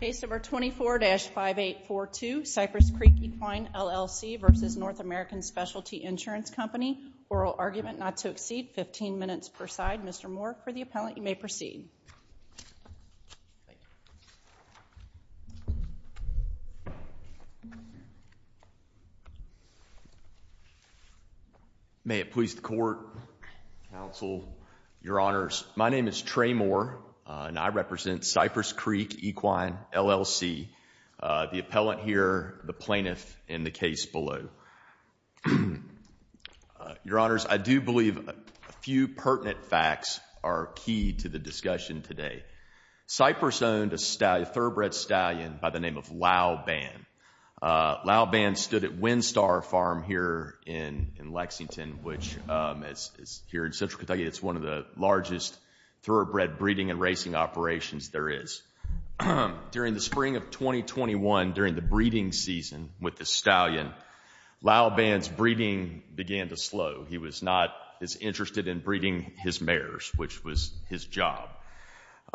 Case number 24-5842, Cypress Creek Equine LLC v. North American Specialty Insurance Company, oral argument not to exceed 15 minutes per side. Mr. Moore for the appellant, you may proceed. May it please the court, counsel, your honors, my name is Trey Moore and I represent Cypress Creek Equine LLC. The appellant here, the plaintiff in the case below. Your honors, I do believe a few pertinent facts are key to the discussion today. Cypress owned a thoroughbred stallion by the name of Lau Ban. Lau Ban stood at Windstar Farm here in Lexington, which is here in Central Kentucky. It's one of the largest thoroughbred breeding and racing operations there is. During the spring of 2021, during the breeding season with the stallion, Lau Ban's breeding began to slow. He was not as interested in breeding his mares, which was his job.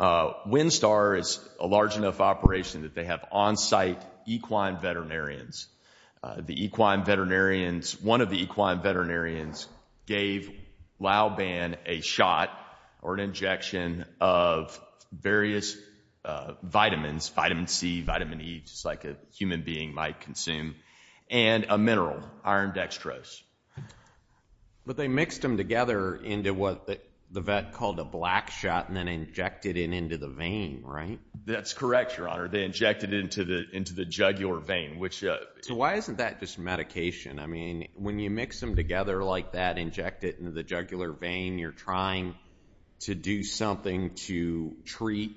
Windstar is a large enough operation that they have on-site equine veterinarians. The equine veterinarians, one of the equine veterinarians gave Lau Ban a shot or an injection of various vitamins, vitamin C, vitamin E, just like a human being might consume, and a mineral, iron dextrose. But they mixed them together into what the vet called a black shot and then injected it into the vein, right? That's correct, your honor. They injected it into the jugular vein, which... So why isn't that just medication? I mean, when you mix them together like that, inject it into the jugular vein, you're trying to do something to treat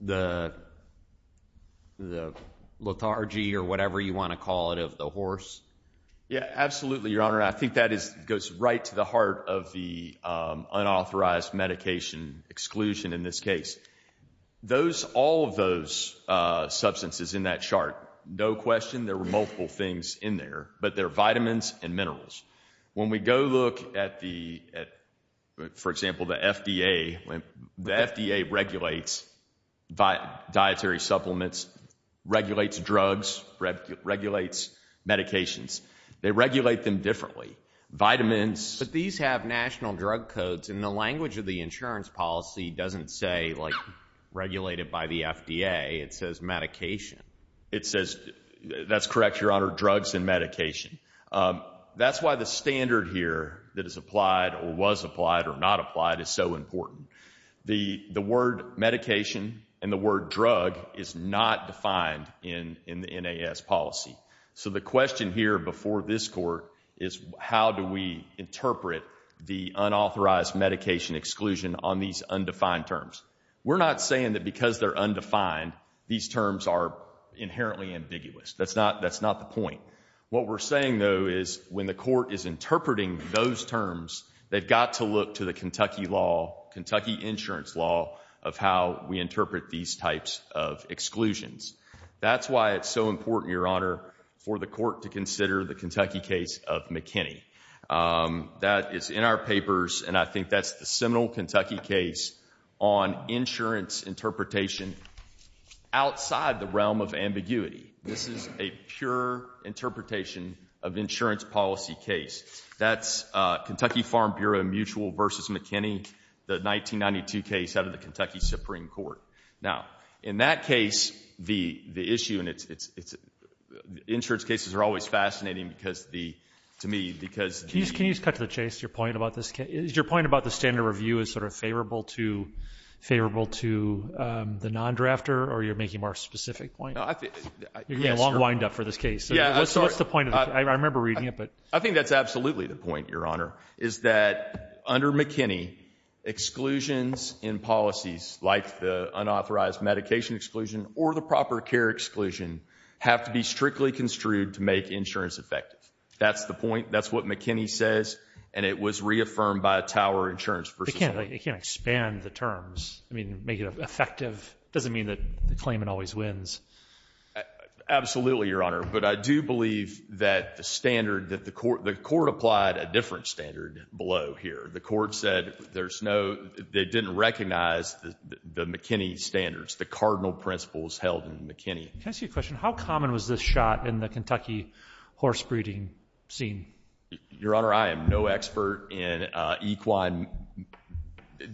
the lethargy or whatever you want to call it of the horse. Yeah, absolutely, your honor. I think that is goes right to the heart of the unauthorized medication exclusion in this case. Those, all of those substances in that chart, no question, there were multiple things in there, but they're vitamins and minerals. When we go look at the, for example, the FDA, the FDA regulates dietary supplements, regulates drugs, regulates medications. They regulate them differently. Vitamins... But these have national drug codes and the language of the insurance policy doesn't say like regulated by the FDA. It says medication. It says, that's correct, your honor, drugs and medication. That's why the standard here that is applied or was applied or not applied is so important. The word medication and the word drug is not defined in the NAS policy. So the question here before this court is how do we interpret the unauthorized medication exclusion on these undefined terms? We're not saying that because they're undefined, these terms are inherently ambiguous. That's not the point. What we're saying though is when the court is interpreting those terms, they've got to look to the Kentucky law, Kentucky insurance law of how we interpret these types of exclusions. That's why it's so important, your honor, for the court to consider the Kentucky case of McKinney. That is in our papers and I think that's the seminal Kentucky case on insurance interpretation outside the realm of ambiguity. This is a pure interpretation of insurance policy case. That's Kentucky Farm Bureau mutual versus McKinney, the 1992 case out of the Kentucky Supreme Court. Now in that case, the issue and it's... Insurance cases are always fascinating because the... To me, because... Can you just cut to the chase, your point about this? Your view is sort of favorable to the non-drafter or you're making a more specific point? You're getting a long wind up for this case. What's the point? I remember reading it but... I think that's absolutely the point, your honor, is that under McKinney, exclusions in policies like the unauthorized medication exclusion or the proper care exclusion have to be strictly construed to make insurance effective. That's the point. That's what McKinney says and it was reaffirmed by Tower Insurance versus... They can't expand the terms. I mean, make it effective. It doesn't mean that the claimant always wins. Absolutely, your honor, but I do believe that the standard that the court... The court applied a different standard below here. The court said there's no... They didn't recognize the McKinney standards, the cardinal principles held in McKinney. Can I ask you a question? How common was this shot in the Kentucky horse breeding scene? Your honor, I am no expert in equine...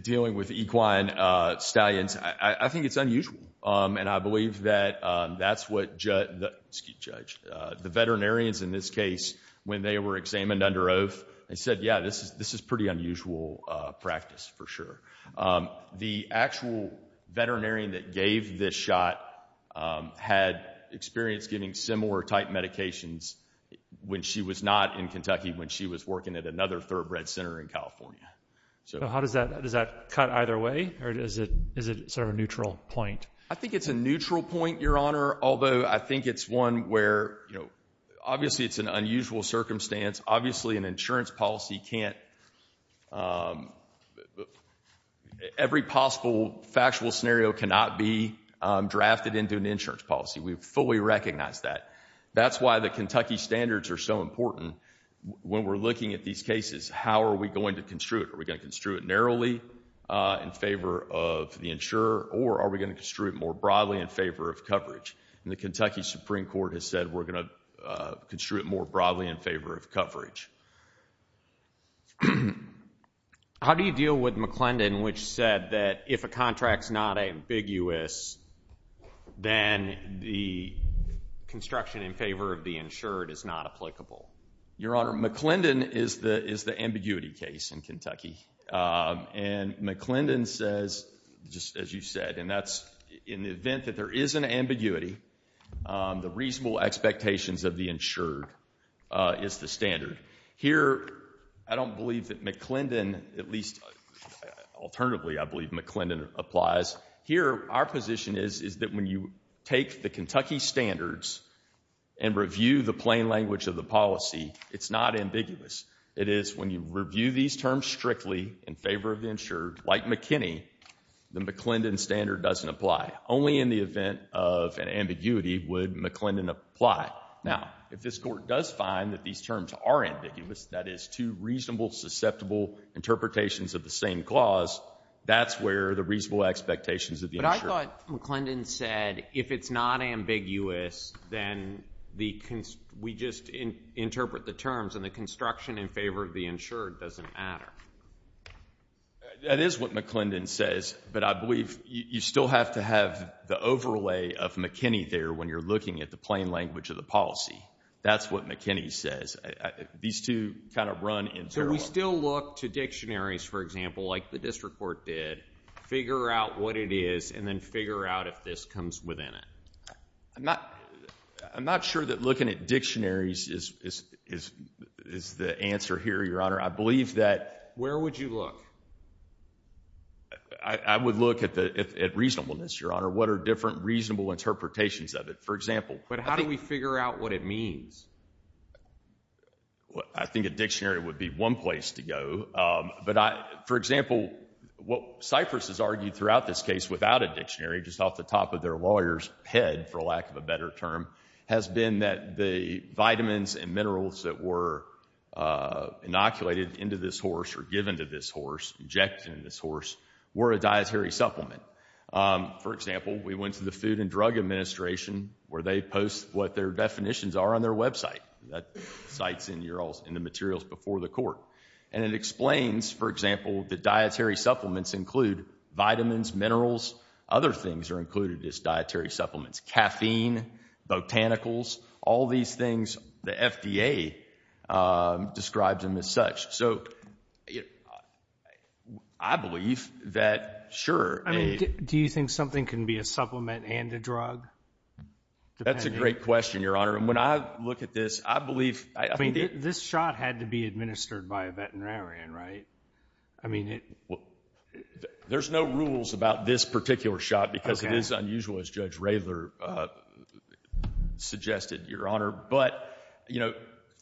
Dealing with equine stallions. I think it's unusual and I believe that that's what... Excuse me, Judge. The veterinarians in this case, when they were examined under oath, they said, yeah, this is pretty unusual practice for sure. The actual veterinarian that gave this shot had experience giving similar type medications when she was not in Kentucky, when she was working at another thoroughbred center in California. So how does that... Does that cut either way or is it sort of a neutral point? I think it's a neutral point, your honor, although I think it's one where... Obviously, it's an unusual circumstance. Obviously, an insurance policy can't... Every possible factual scenario cannot be drafted into an insurance policy. We fully recognize that. That's why the Kentucky standards are so important. When we're looking at these cases, how are we going to construe it? Are we going to construe it narrowly in favor of the insurer or are we going to construe it more broadly in favor of coverage? And the Kentucky Supreme Court has said we're going to construe it more broadly in favor of coverage. How do you deal with McClendon, which said that if a contract's not ambiguous, then the construction in favor of the insured is not applicable? Your honor, McClendon is the ambiguity case in Kentucky. And McClendon says, just as you said, and that's in the event that there is an ambiguity, the reasonable expectations of the insured is the standard. Here, I don't believe that McClendon, at least alternatively, I believe McClendon applies. Here, our position is that when you take the Kentucky standards and review the plain language of the policy, it's not ambiguous. It is when you review these terms strictly in favor of the insured, like McKinney, the McClendon standard doesn't apply. Only in the event of an ambiguity would McClendon apply. Now, if this court does find that these terms are ambiguous, that is, two reasonable, susceptible interpretations of the same clause, that's where the reasonable expectations of the insured. But I thought McClendon said, if it's not ambiguous, then we just interpret the terms, and the construction in favor of the insured doesn't matter. That is what McClendon says, but I believe you still have to have the overlay of McKinney there when you're looking at the plain language of the policy. That's what McKinney says. These two kind of run in parallel. So we still look to dictionaries, for example, like the district court did, figure out what it is, and then figure out if this comes within it? I'm not sure that looking at dictionaries is the answer here, Your Honor. I believe that Where would you look? I would look at reasonableness, Your Honor. What are different reasonable interpretations of it, for example? But how do we figure out what it means? I think a dictionary would be one place to go. But, for example, what Cypress has argued throughout this case without a dictionary, just off the top of their lawyer's head, for lack of a better term, has been that the vitamins and minerals that were inoculated into this horse, or given to this horse, injected in this horse, were a dietary supplement. For example, we went to the Food and Drug Administration, where they post what their definitions are on their website. That cites in the materials before the court. And it explains, for example, that dietary supplements include vitamins, minerals. Other things are included as dietary supplements. Caffeine, botanicals, all these things. The FDA describes them as such. So I believe that, sure. Do you think something can be a supplement and a drug? That's a great question, Your Honor. And when I look at this, I believe... This shot had to be administered by a veterinarian, right? There's no rules about this particular shot, because it is unusual, as Judge Raylor suggested, Your Honor. But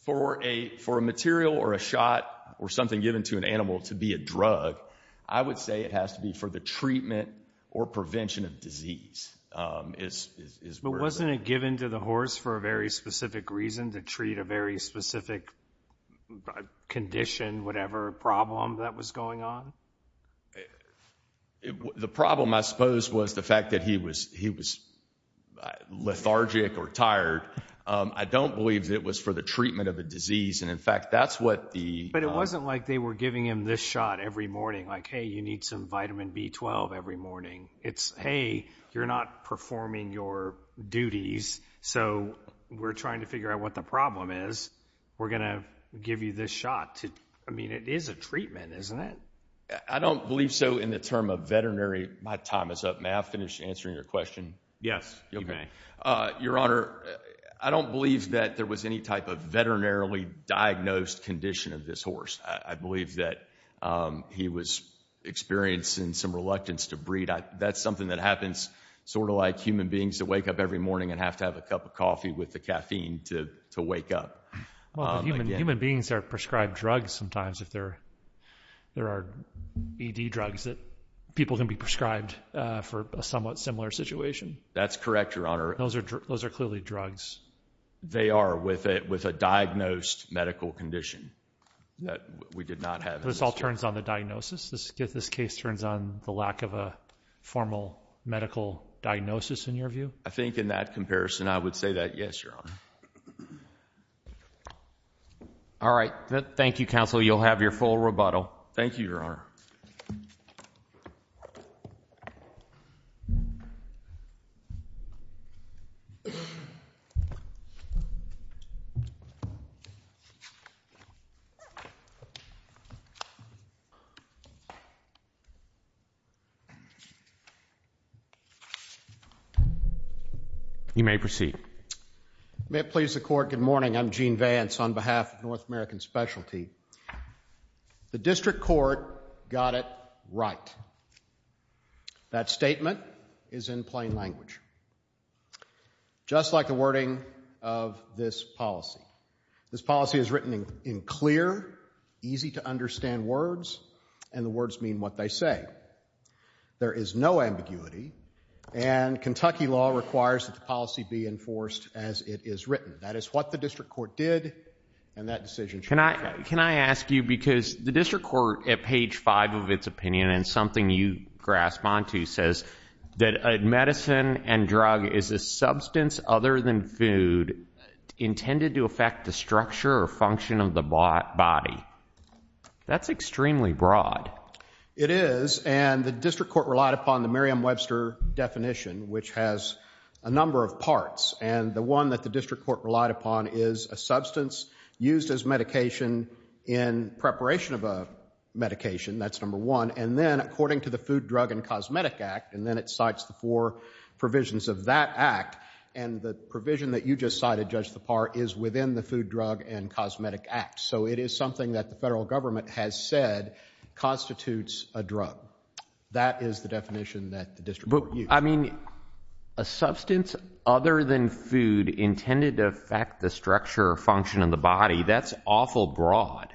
for a material, or a shot, or something given to an animal to be a drug, I would say it has to be for the treatment or prevention of disease. But wasn't it given to the horse for a very specific reason, to treat a very specific condition, whatever problem that was going on? The problem, I suppose, was the fact that he was lethargic or tired. I don't believe it was for the treatment of a disease. And in fact, that's what the... But it wasn't like they were giving him this shot every morning. Like, hey, you need some vitamin B12 every morning. It's, hey, you're not performing your duties. So we're trying to figure out what the problem is. We're going to give you this shot. I mean, it is a treatment, isn't it? I don't believe so in the term of veterinary. My time is up. May I finish answering your question? Yes, you may. Your Honor, I don't believe that there was any type of veterinarily diagnosed condition of this horse. I believe that he was experiencing some reluctance to breed. That's something that happens sort of like human beings that wake up every morning and have to have a cup of coffee with the caffeine to wake up. Human beings are prescribed drugs sometimes. There are ED drugs that people can be prescribed for a somewhat similar situation. That's correct, Your Honor. Those are clearly drugs. They are with a diagnosed medical condition that we did not have. This all turns on the diagnosis? This case turns on the lack of a formal medical diagnosis, in your view? I think in that comparison, I would say that, yes, Your Honor. All right. Thank you, counsel. You'll have your full rebuttal. Thank you, Your Honor. You may proceed. You may please the court. Good morning. I'm Gene Vance on behalf of North American Specialty. The district court got it right. That statement is in plain language, just like the wording of this policy. This policy is written in clear, easy-to-understand words, and the words mean what they say. There is no ambiguity, and Kentucky law requires that the policy be enforced as it is written. That is what the district court did, and that decision should be made. Can I ask you, because the district court, at page five of its opinion, and something you grasp onto, says that medicine and drug is a substance other than food intended to affect the structure or function of the body. That's extremely broad. It is, and the district court relied upon the Merriam-Webster definition, which has a number of parts, and the one that the district court relied upon is a substance used as medication in preparation of a medication. That's number one, and then, according to the Food, Drug, and Cosmetic Act, and then it cites the four provisions of that act, and the provision that you just cited, Judge Lepar, is within the Food, Drug, and Cosmetic Act. So it is something that the federal government has said constitutes a drug. That is the definition that the district court used. I mean, a substance other than food intended to affect the structure or function of the body. That's awful broad.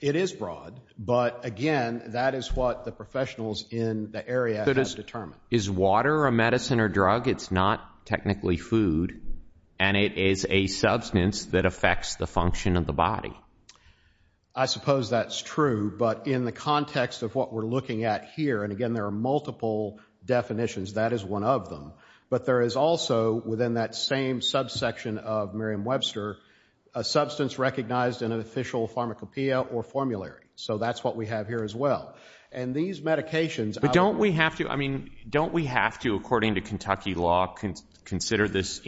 It is broad, but again, that is what the professionals in the area have determined. Is water a medicine or drug? It's not technically food, and it is a substance that affects the function of the body. I suppose that's true, but in the context of what we're looking at here, and again, there are multiple definitions, that is one of them, but there is also, within that same subsection of Merriam-Webster, a substance recognized in an official pharmacopeia or formulary. So that's what we have here as well. And these medications— But don't we have to, I mean, don't we have to, according to Kentucky law, consider this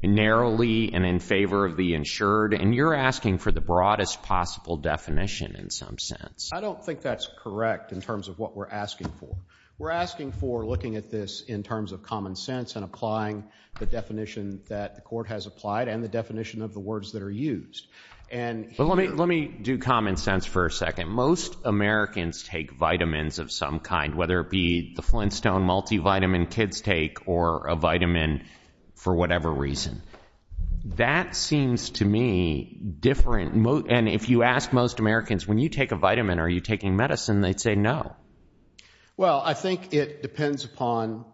narrowly and in favor of the insured? And you're asking for the broadest possible definition in some sense. I don't think that's correct in terms of what we're asking for. We're asking for looking at this in terms of common sense and applying the definition that the court has applied and the definition of the words that are used. But let me do common sense for a second. Most Americans take vitamins of some kind, whether it be the Flintstone multivitamin kids take or a vitamin for whatever reason. That seems to me different, and if you ask most Americans, when you take a vitamin, are you taking medicine, they'd say no. Well, I think it depends upon,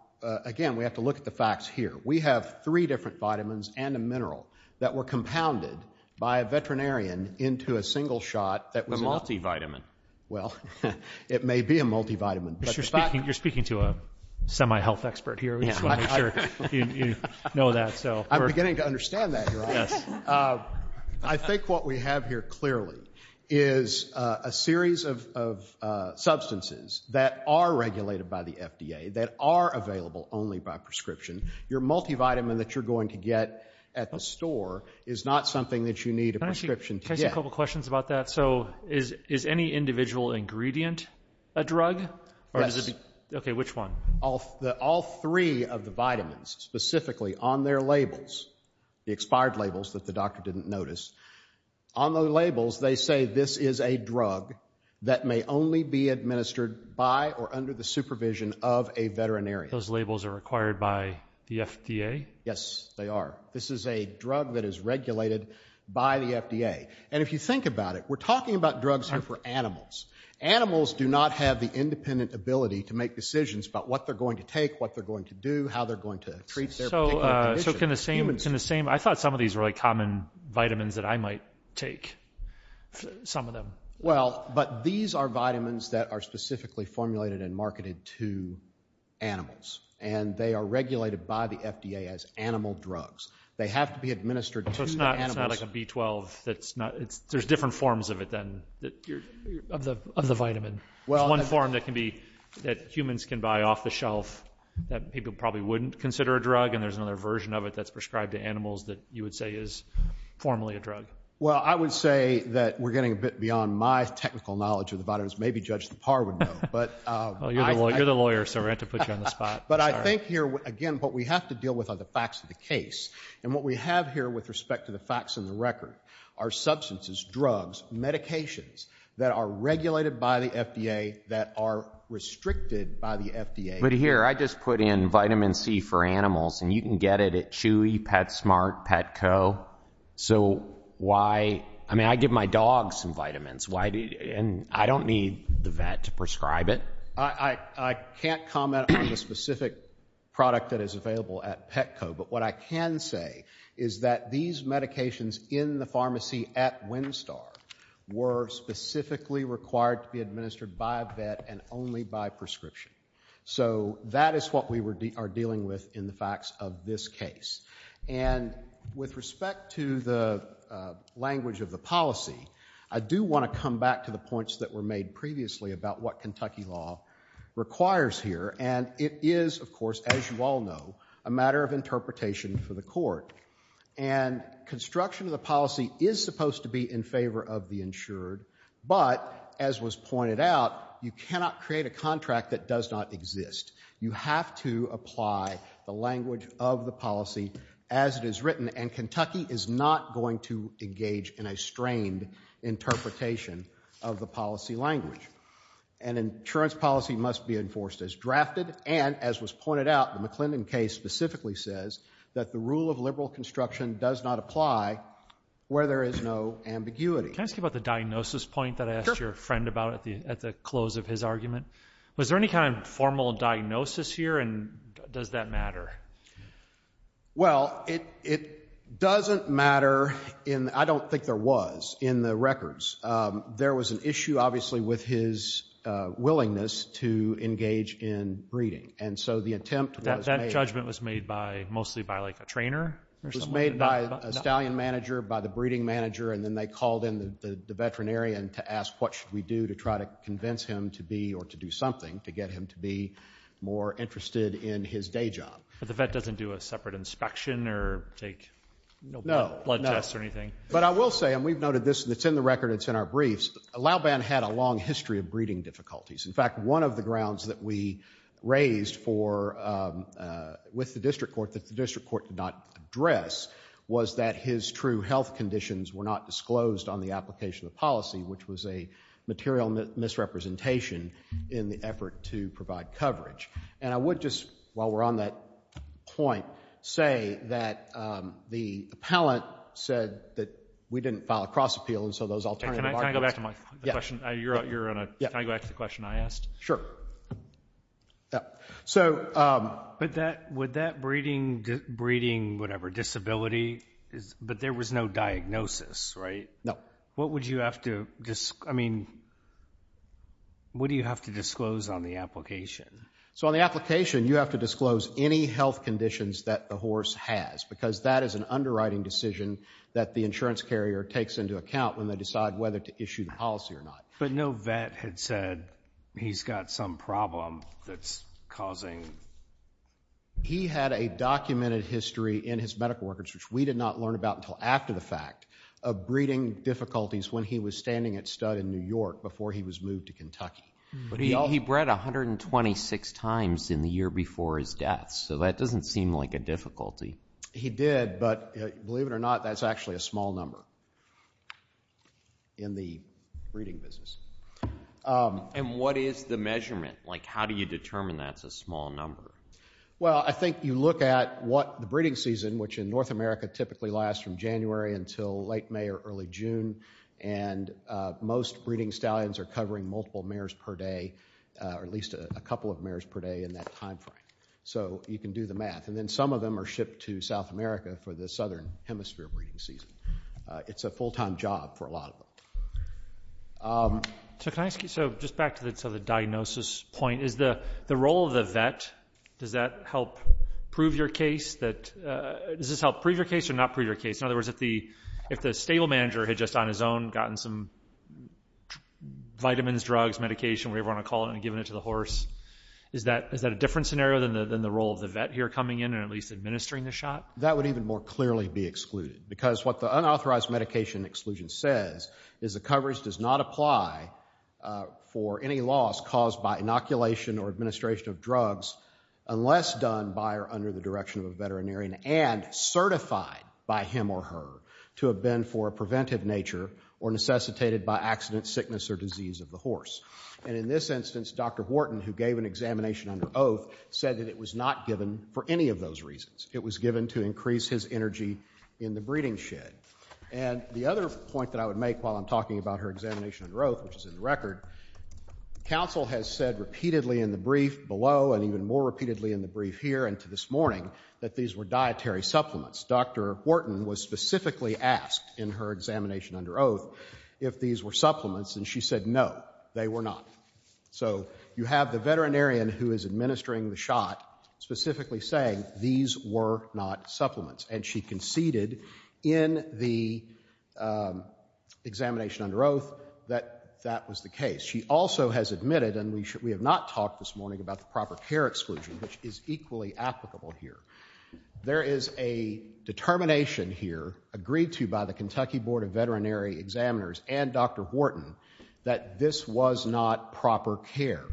again, we have to look at the facts here. We have three different vitamins and a mineral that were compounded by a veterinarian into a single shot that was— A multivitamin. Well, it may be a multivitamin, but the fact— You're speaking to a semi-health expert here. We just want to make sure you know that. I'm beginning to understand that, Your Honor. I think what we have here clearly is a series of substances that are regulated by the FDA, that are available only by prescription. Your multivitamin that you're going to get at the store is not something that you need a prescription to get. Can I ask you a couple questions about that? So is any individual ingredient a drug? Yes. Okay, which one? All three of the vitamins, specifically on their labels, the expired labels that the doctor didn't notice, on the labels they say this is a drug that may only be administered by or under the supervision of a veterinarian. Those labels are required by the FDA? Yes, they are. This is a drug that is regulated by the FDA. And if you think about it, we're talking about drugs here for animals. Animals do not have the independent ability to make decisions about what they're going to take, what they're going to do, how they're going to treat their particular condition. So can the same— I thought some of these were common vitamins that I might take, some of them. Well, but these are vitamins that are specifically formulated and marketed to animals, and they are regulated by the FDA as animal drugs. They have to be administered to the animals. So it's not like a B12 that's not— there's different forms of it, then, that you're— Of the vitamin. There's one form that can be— that humans can buy off the shelf that people probably wouldn't consider a drug, and there's another version of it that's prescribed to animals that you would say is formally a drug. Well, I would say that we're getting a bit beyond my technical knowledge of the vitamins. Maybe Judge Lepar would know, but— Well, you're the lawyer, so we're going to have to put you on the spot. But I think here, again, what we have to deal with are the facts of the case. And what we have here with respect to the facts and the record are substances, drugs, medications that are regulated by the FDA that are restricted by the FDA. But here, I just put in vitamin C for animals, and you can get it at Chewy, PetSmart, Petco. So why—I mean, I give my dog some vitamins. And I don't need the vet to prescribe it. I can't comment on the specific product that is available at Petco, but what I can say is that these medications in the pharmacy at Windstar were specifically required to be administered by a vet and only by prescription. So that is what we are dealing with in the facts of this case. And with respect to the language of the policy, I do want to come back to the points that were made previously about what Kentucky law requires here. And it is, of course, as you all know, a matter of interpretation for the court. And construction of the policy is supposed to be in favor of the insured. But, as was pointed out, you cannot create a contract that does not exist. You have to apply the language of the policy as it is written, and Kentucky is not going to engage in a strained interpretation of the policy language. An insurance policy must be enforced as drafted. And, as was pointed out, the McClendon case specifically says that the rule of liberal construction does not apply where there is no ambiguity. Can I ask you about the diagnosis point that I asked your friend about at the close of his argument? Was there any kind of formal diagnosis here? And does that matter? Well, it doesn't matter. I don't think there was in the records. There was an issue, obviously, with his willingness to engage in breeding. And so the attempt was made— That judgment was made mostly by a trainer? It was made by a stallion manager, by the breeding manager. And then they called in the veterinarian to ask what should we do to try to convince him to be, or to do something, to get him to be more interested in his day job. But the vet doesn't do a separate inspection or take blood tests or anything? But I will say, and we've noted this, it's in the record, it's in our briefs, Lauban had a long history of breeding difficulties. In fact, one of the grounds that we raised with the district court that the district court did not address was that his true health conditions were not disclosed on the application of policy, which was a material misrepresentation in the effort to provide coverage. And I would just, while we're on that point, say that the appellant said that we didn't file a cross-appeal, and so those alternative arguments— Can I go back to the question I asked? Sure. So— But would that breeding, whatever, disability, but there was no diagnosis, right? No. What would you have to, I mean, what do you have to disclose on the application? So on the application, you have to disclose any health conditions that the horse has, because that is an underwriting decision that the insurance carrier takes into account when they decide whether to issue the policy or not. But no vet had said he's got some problem that's causing— He had a documented history in his medical records, which we did not learn about until after the fact, of breeding difficulties when he was standing at stud in New York before he was moved to Kentucky. But he bred 126 times in the year before his death, so that doesn't seem like a difficulty. He did, but believe it or not, that's actually a small number in the breeding business. And what is the measurement? Like, how do you determine that's a small number? Well, I think you look at what the breeding season, which in North America typically lasts from January until late May or early June, and most breeding stallions are covering multiple mares per day, or at least a couple of mares per day in that time frame. So you can do the math. And then some of them are shipped to South America for the Southern Hemisphere breeding season. It's a full-time job for a lot of them. So can I ask you, so just back to the diagnosis point, is the role of the vet, does that help prove your case? Does this help prove your case or not prove your case? In other words, if the stable manager had just on his own gotten some vitamins, drugs, medication, whatever you want to call it, and given it to the horse, is that a different scenario than the role of the vet here coming in and at least administering the shot? That would even more clearly be excluded, because what the unauthorized medication exclusion says is the coverage does not apply for any loss caused by inoculation or administration of drugs unless done by or under the direction of a veterinarian and certified by him or her to have been for a preventive nature or necessitated by accident, sickness, or disease of the horse. And in this instance, Dr. Wharton, who gave an examination under oath, said that it was not given for any of those reasons. It was given to increase his energy in the breeding shed. And the other point that I would make while I'm talking about her examination under oath, which is in the record, counsel has said repeatedly in the brief below and even more repeatedly in the brief here and to this morning that these were dietary supplements. Dr. Wharton was specifically asked in her examination under oath if these were supplements, and she said no, they were not. So you have the veterinarian who is administering the shot specifically saying these were not supplements. And she conceded in the examination under oath that that was the case. She also has admitted, and we have not talked this morning about the proper care exclusion, which is equally applicable here. There is a determination here, agreed to by the Kentucky Board of Veterinary Examiners and Dr. Wharton, that this was not proper care.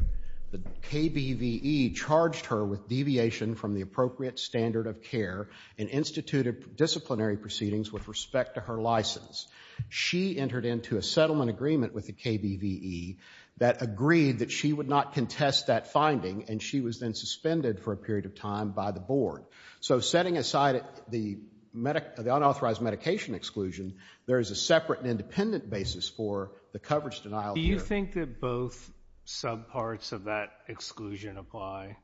The KBVE charged her with deviation from the appropriate standard of care and instituted disciplinary proceedings with respect to her license. She entered into a settlement agreement with the KBVE that agreed that she would not contest that finding, and she was then suspended for a period of time by the board. So setting aside the unauthorized medication exclusion, there is a separate and independent basis for the coverage denial. Do you think that both subparts of that exclusion apply?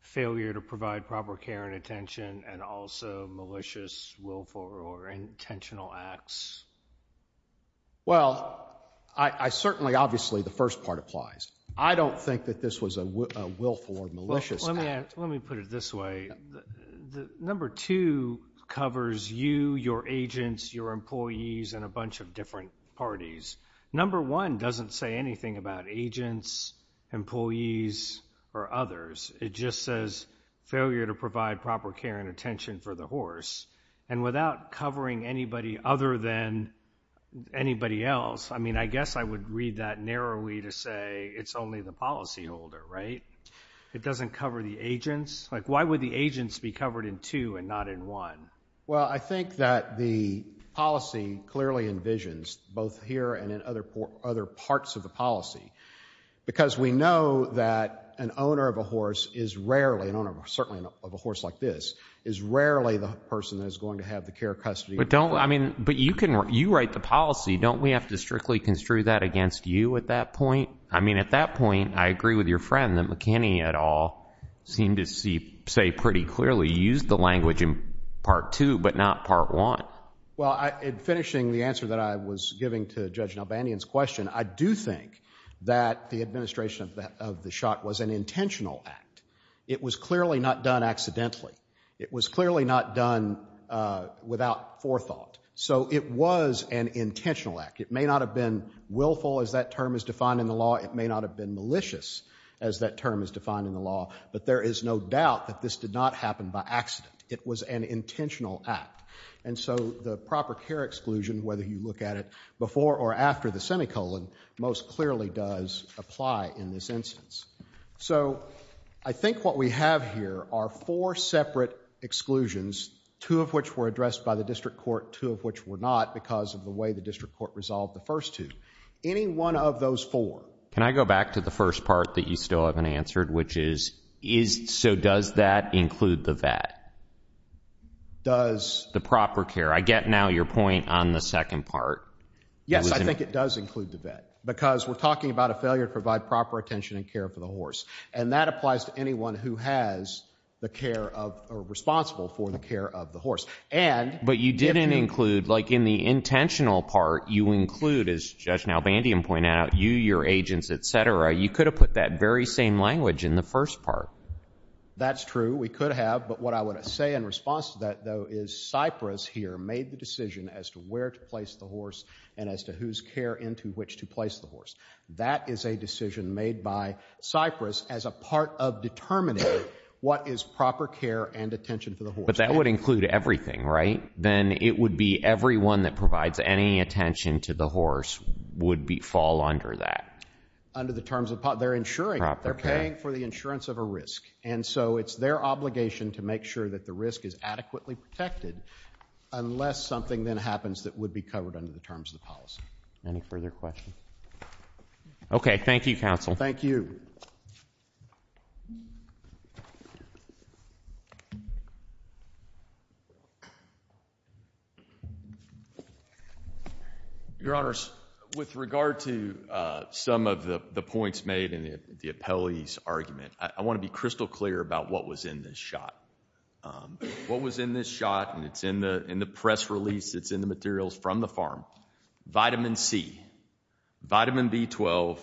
Failure to provide proper care and attention and also malicious, willful, or intentional acts? Well, I certainly, obviously, the first part applies. I don't think that this was a willful or malicious act. Let me put it this way. Number two covers you, your agents, your employees, and a bunch of different parties. Number one doesn't say anything about agents, employees, or others. It just says failure to provide proper care and attention for the horse. And without covering anybody other than anybody else, I mean, I guess I would read that narrowly to say it's only the policyholder, right? It doesn't cover the agents. Like, why would the agents be covered in two and not in one? Well, I think that the policy clearly envisions both here and in other parts of the policy, because we know that an owner of a horse is rarely, an owner, certainly, of a horse like this, is rarely the person that is going to have the care custody. But don't, I mean, but you can, you write the policy. Don't we have to strictly construe that against you at that point? I mean, at that point, I agree with your friend that McKinney et al seemed to see, say, pretty clearly used the language in part two, but not part one. Well, in finishing the answer that I was giving to Judge Nelbanian's question, I do think that the administration of the shot was an intentional act. It was clearly not done accidentally. It was clearly not done without forethought. So it was an intentional act. It may not have been willful, as that term is defined in the law. It may not have been malicious, as that term is defined in the law. But there is no doubt that this did not happen by accident. It was an intentional act. And so the proper care exclusion, whether you look at it before or after the semicolon, most clearly does apply in this instance. So I think what we have here are four separate exclusions, two of which were addressed by the district court, two of which were not because of the way the district court resolved the first two. Any one of those four. Can I go back to the first part that you still haven't answered? Which is, so does that include the VAT? Does the proper care? I get now your point on the second part. Yes, I think it does include the VAT. Because we're talking about a failure to provide proper attention and care for the horse. And that applies to anyone who has the care of or responsible for the care of the horse. And, but you didn't include, like in the intentional part, you include, as Judge Nalbandian pointed out, you, your agents, etc. You could have put that very same language in the first part. That's true. We could have. But what I want to say in response to that, though, is Cyprus here made the decision as to where to place the horse and as to whose care into which to place the horse. That is a decision made by Cyprus as a part of determining what is proper care and attention for the horse. But that would include everything, right? Then it would be everyone that provides any attention to the horse would fall under that. Under the terms of, they're insuring, they're paying for the insurance of a risk. And so it's their obligation to make sure that the risk is adequately protected unless something then happens that would be covered under the terms of the policy. Any further questions? Okay. Thank you, counsel. Thank you. Your Honors, with regard to some of the points made in the appellee's argument, I want to be crystal clear about what was in this shot. What was in this shot, and it's in the press release, it's in the materials from the farm, vitamin C, vitamin B12,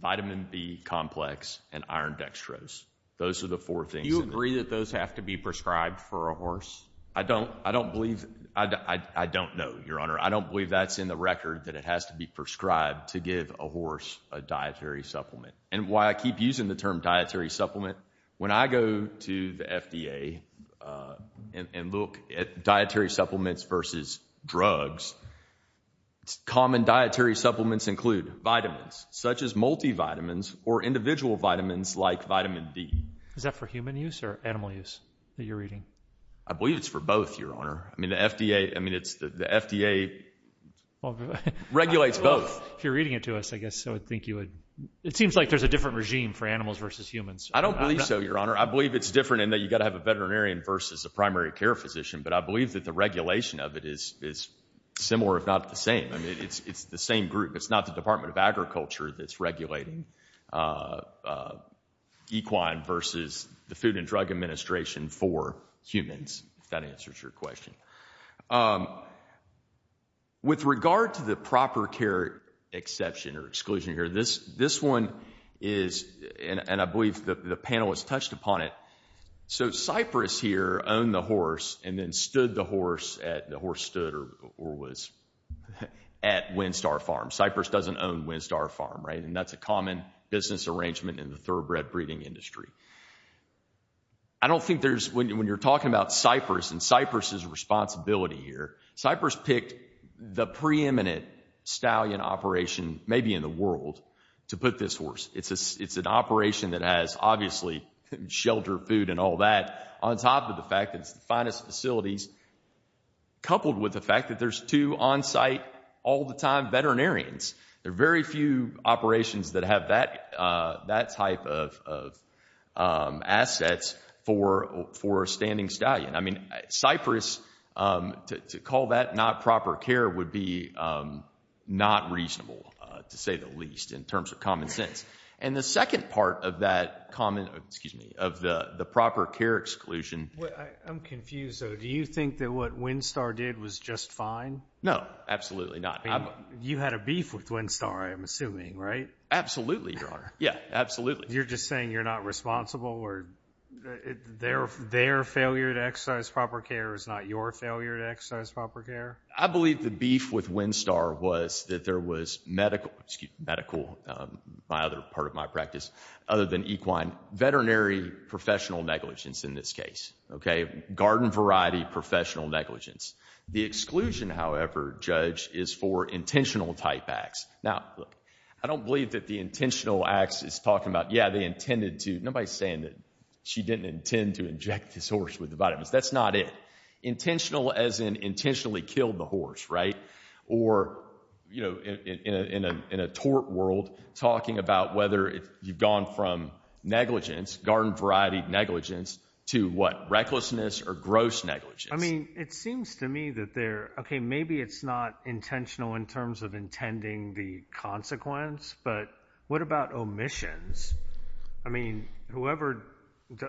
vitamin B complex, and iron dextrose. Those are the four things. Do you agree that those have to be prescribed for a horse? I don't. I don't believe. I don't know, Your Honor. I don't believe that's in the record that it has to be prescribed to give a horse a dietary supplement. And why I keep using the term dietary supplement, when I go to the FDA and look at dietary supplements versus drugs, common dietary supplements include vitamins, such as multivitamins or individual vitamins like vitamin D. Is that for human use or animal use that you're reading? I believe it's for both, Your Honor. I mean, the FDA, I mean, it's the FDA regulates both. If you're reading it to us, I guess I would think you would. It seems like there's a different regime for animals versus humans. I don't believe so, Your Honor. I believe it's different in that you've got to have a veterinarian versus a primary care physician. But I believe that the regulation of it is similar, if not the same. I mean, it's the same group. It's not the Department of Agriculture that's regulating equine versus the Food and Drug Administration for humans, if that answers your question. With regard to the proper care exception or exclusion here, this one is, and I believe the panel has touched upon it, so Cypress here owned the horse and then stood the horse at, the horse stood or was at Windstar Farm. Cypress doesn't own Windstar Farm, right? And that's a common business arrangement in the thoroughbred breeding industry. I don't think there's, when you're talking about Cypress and Cypress's responsibility here, Cypress picked the preeminent stallion operation, maybe in the world, to put this horse. It's an operation that has, obviously, shelter, food, and all that, on top of the fact that it's the finest facilities, coupled with the fact that there's two on-site, all-the-time veterinarians. There are very few operations that have that type of assets for a standing stallion. I mean, Cypress, to call that not proper care would be not reasonable, to say the least, in terms of common sense. And the second part of that common, excuse me, of the proper care exclusion. I'm confused, though. Do you think that what Windstar did was just fine? No, absolutely not. You had a beef with Windstar, I'm assuming, right? Absolutely, Your Honor. Yeah, absolutely. You're just saying you're not responsible, or their failure to exercise proper care is not your failure to exercise proper care? I believe the beef with Windstar was that there was medical, excuse me, medical, my other part of my practice, other than equine, veterinary professional negligence in this case, okay? Garden variety professional negligence. The exclusion, however, Judge, is for intentional type acts. Now, look, I don't believe that the intentional acts is talking about, yeah, they intended to-nobody's saying that she didn't intend to inject this horse with the vitamins. That's not it. Intentional as in intentionally killed the horse, right? Or, you know, in a tort world, talking about whether you've gone from negligence, garden variety negligence, to what, recklessness or gross negligence? It seems to me that they're, okay, maybe it's not intentional in terms of intending the consequence, but what about omissions? I mean, whoever,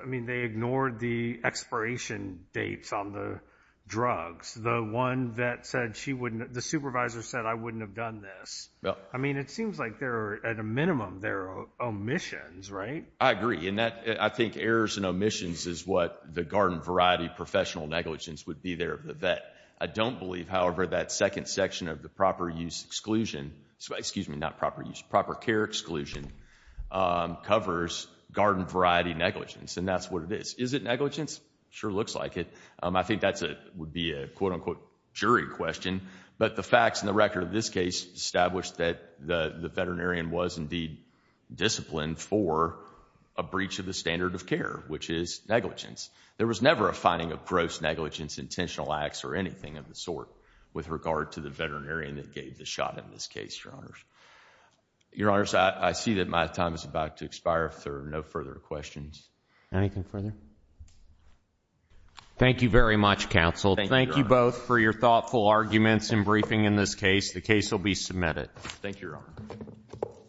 I mean, they ignored the expiration dates on the drugs. The one that said she wouldn't, the supervisor said, I wouldn't have done this. I mean, it seems like there are, at a minimum, there are omissions, right? I agree, and I think errors and omissions is what the garden variety professional negligence would be there of the vet. I don't believe, however, that second section of the proper use exclusion, excuse me, not proper use, proper care exclusion, covers garden variety negligence, and that's what it is. Is it negligence? Sure looks like it. I think that would be a quote unquote jury question, but the facts in the record of this case established that the veterinarian was indeed disciplined for a breach of the standard of care, which is negligence. There was never a finding of gross negligence, intentional acts, or anything of the sort with regard to the veterinarian that gave the shot in this case, Your Honors. Your Honors, I see that my time is about to expire if there are no further questions. Anything further? Thank you very much, counsel. Thank you both for your thoughtful arguments and briefing in this case. The case will be submitted. Thank you, Your Honor.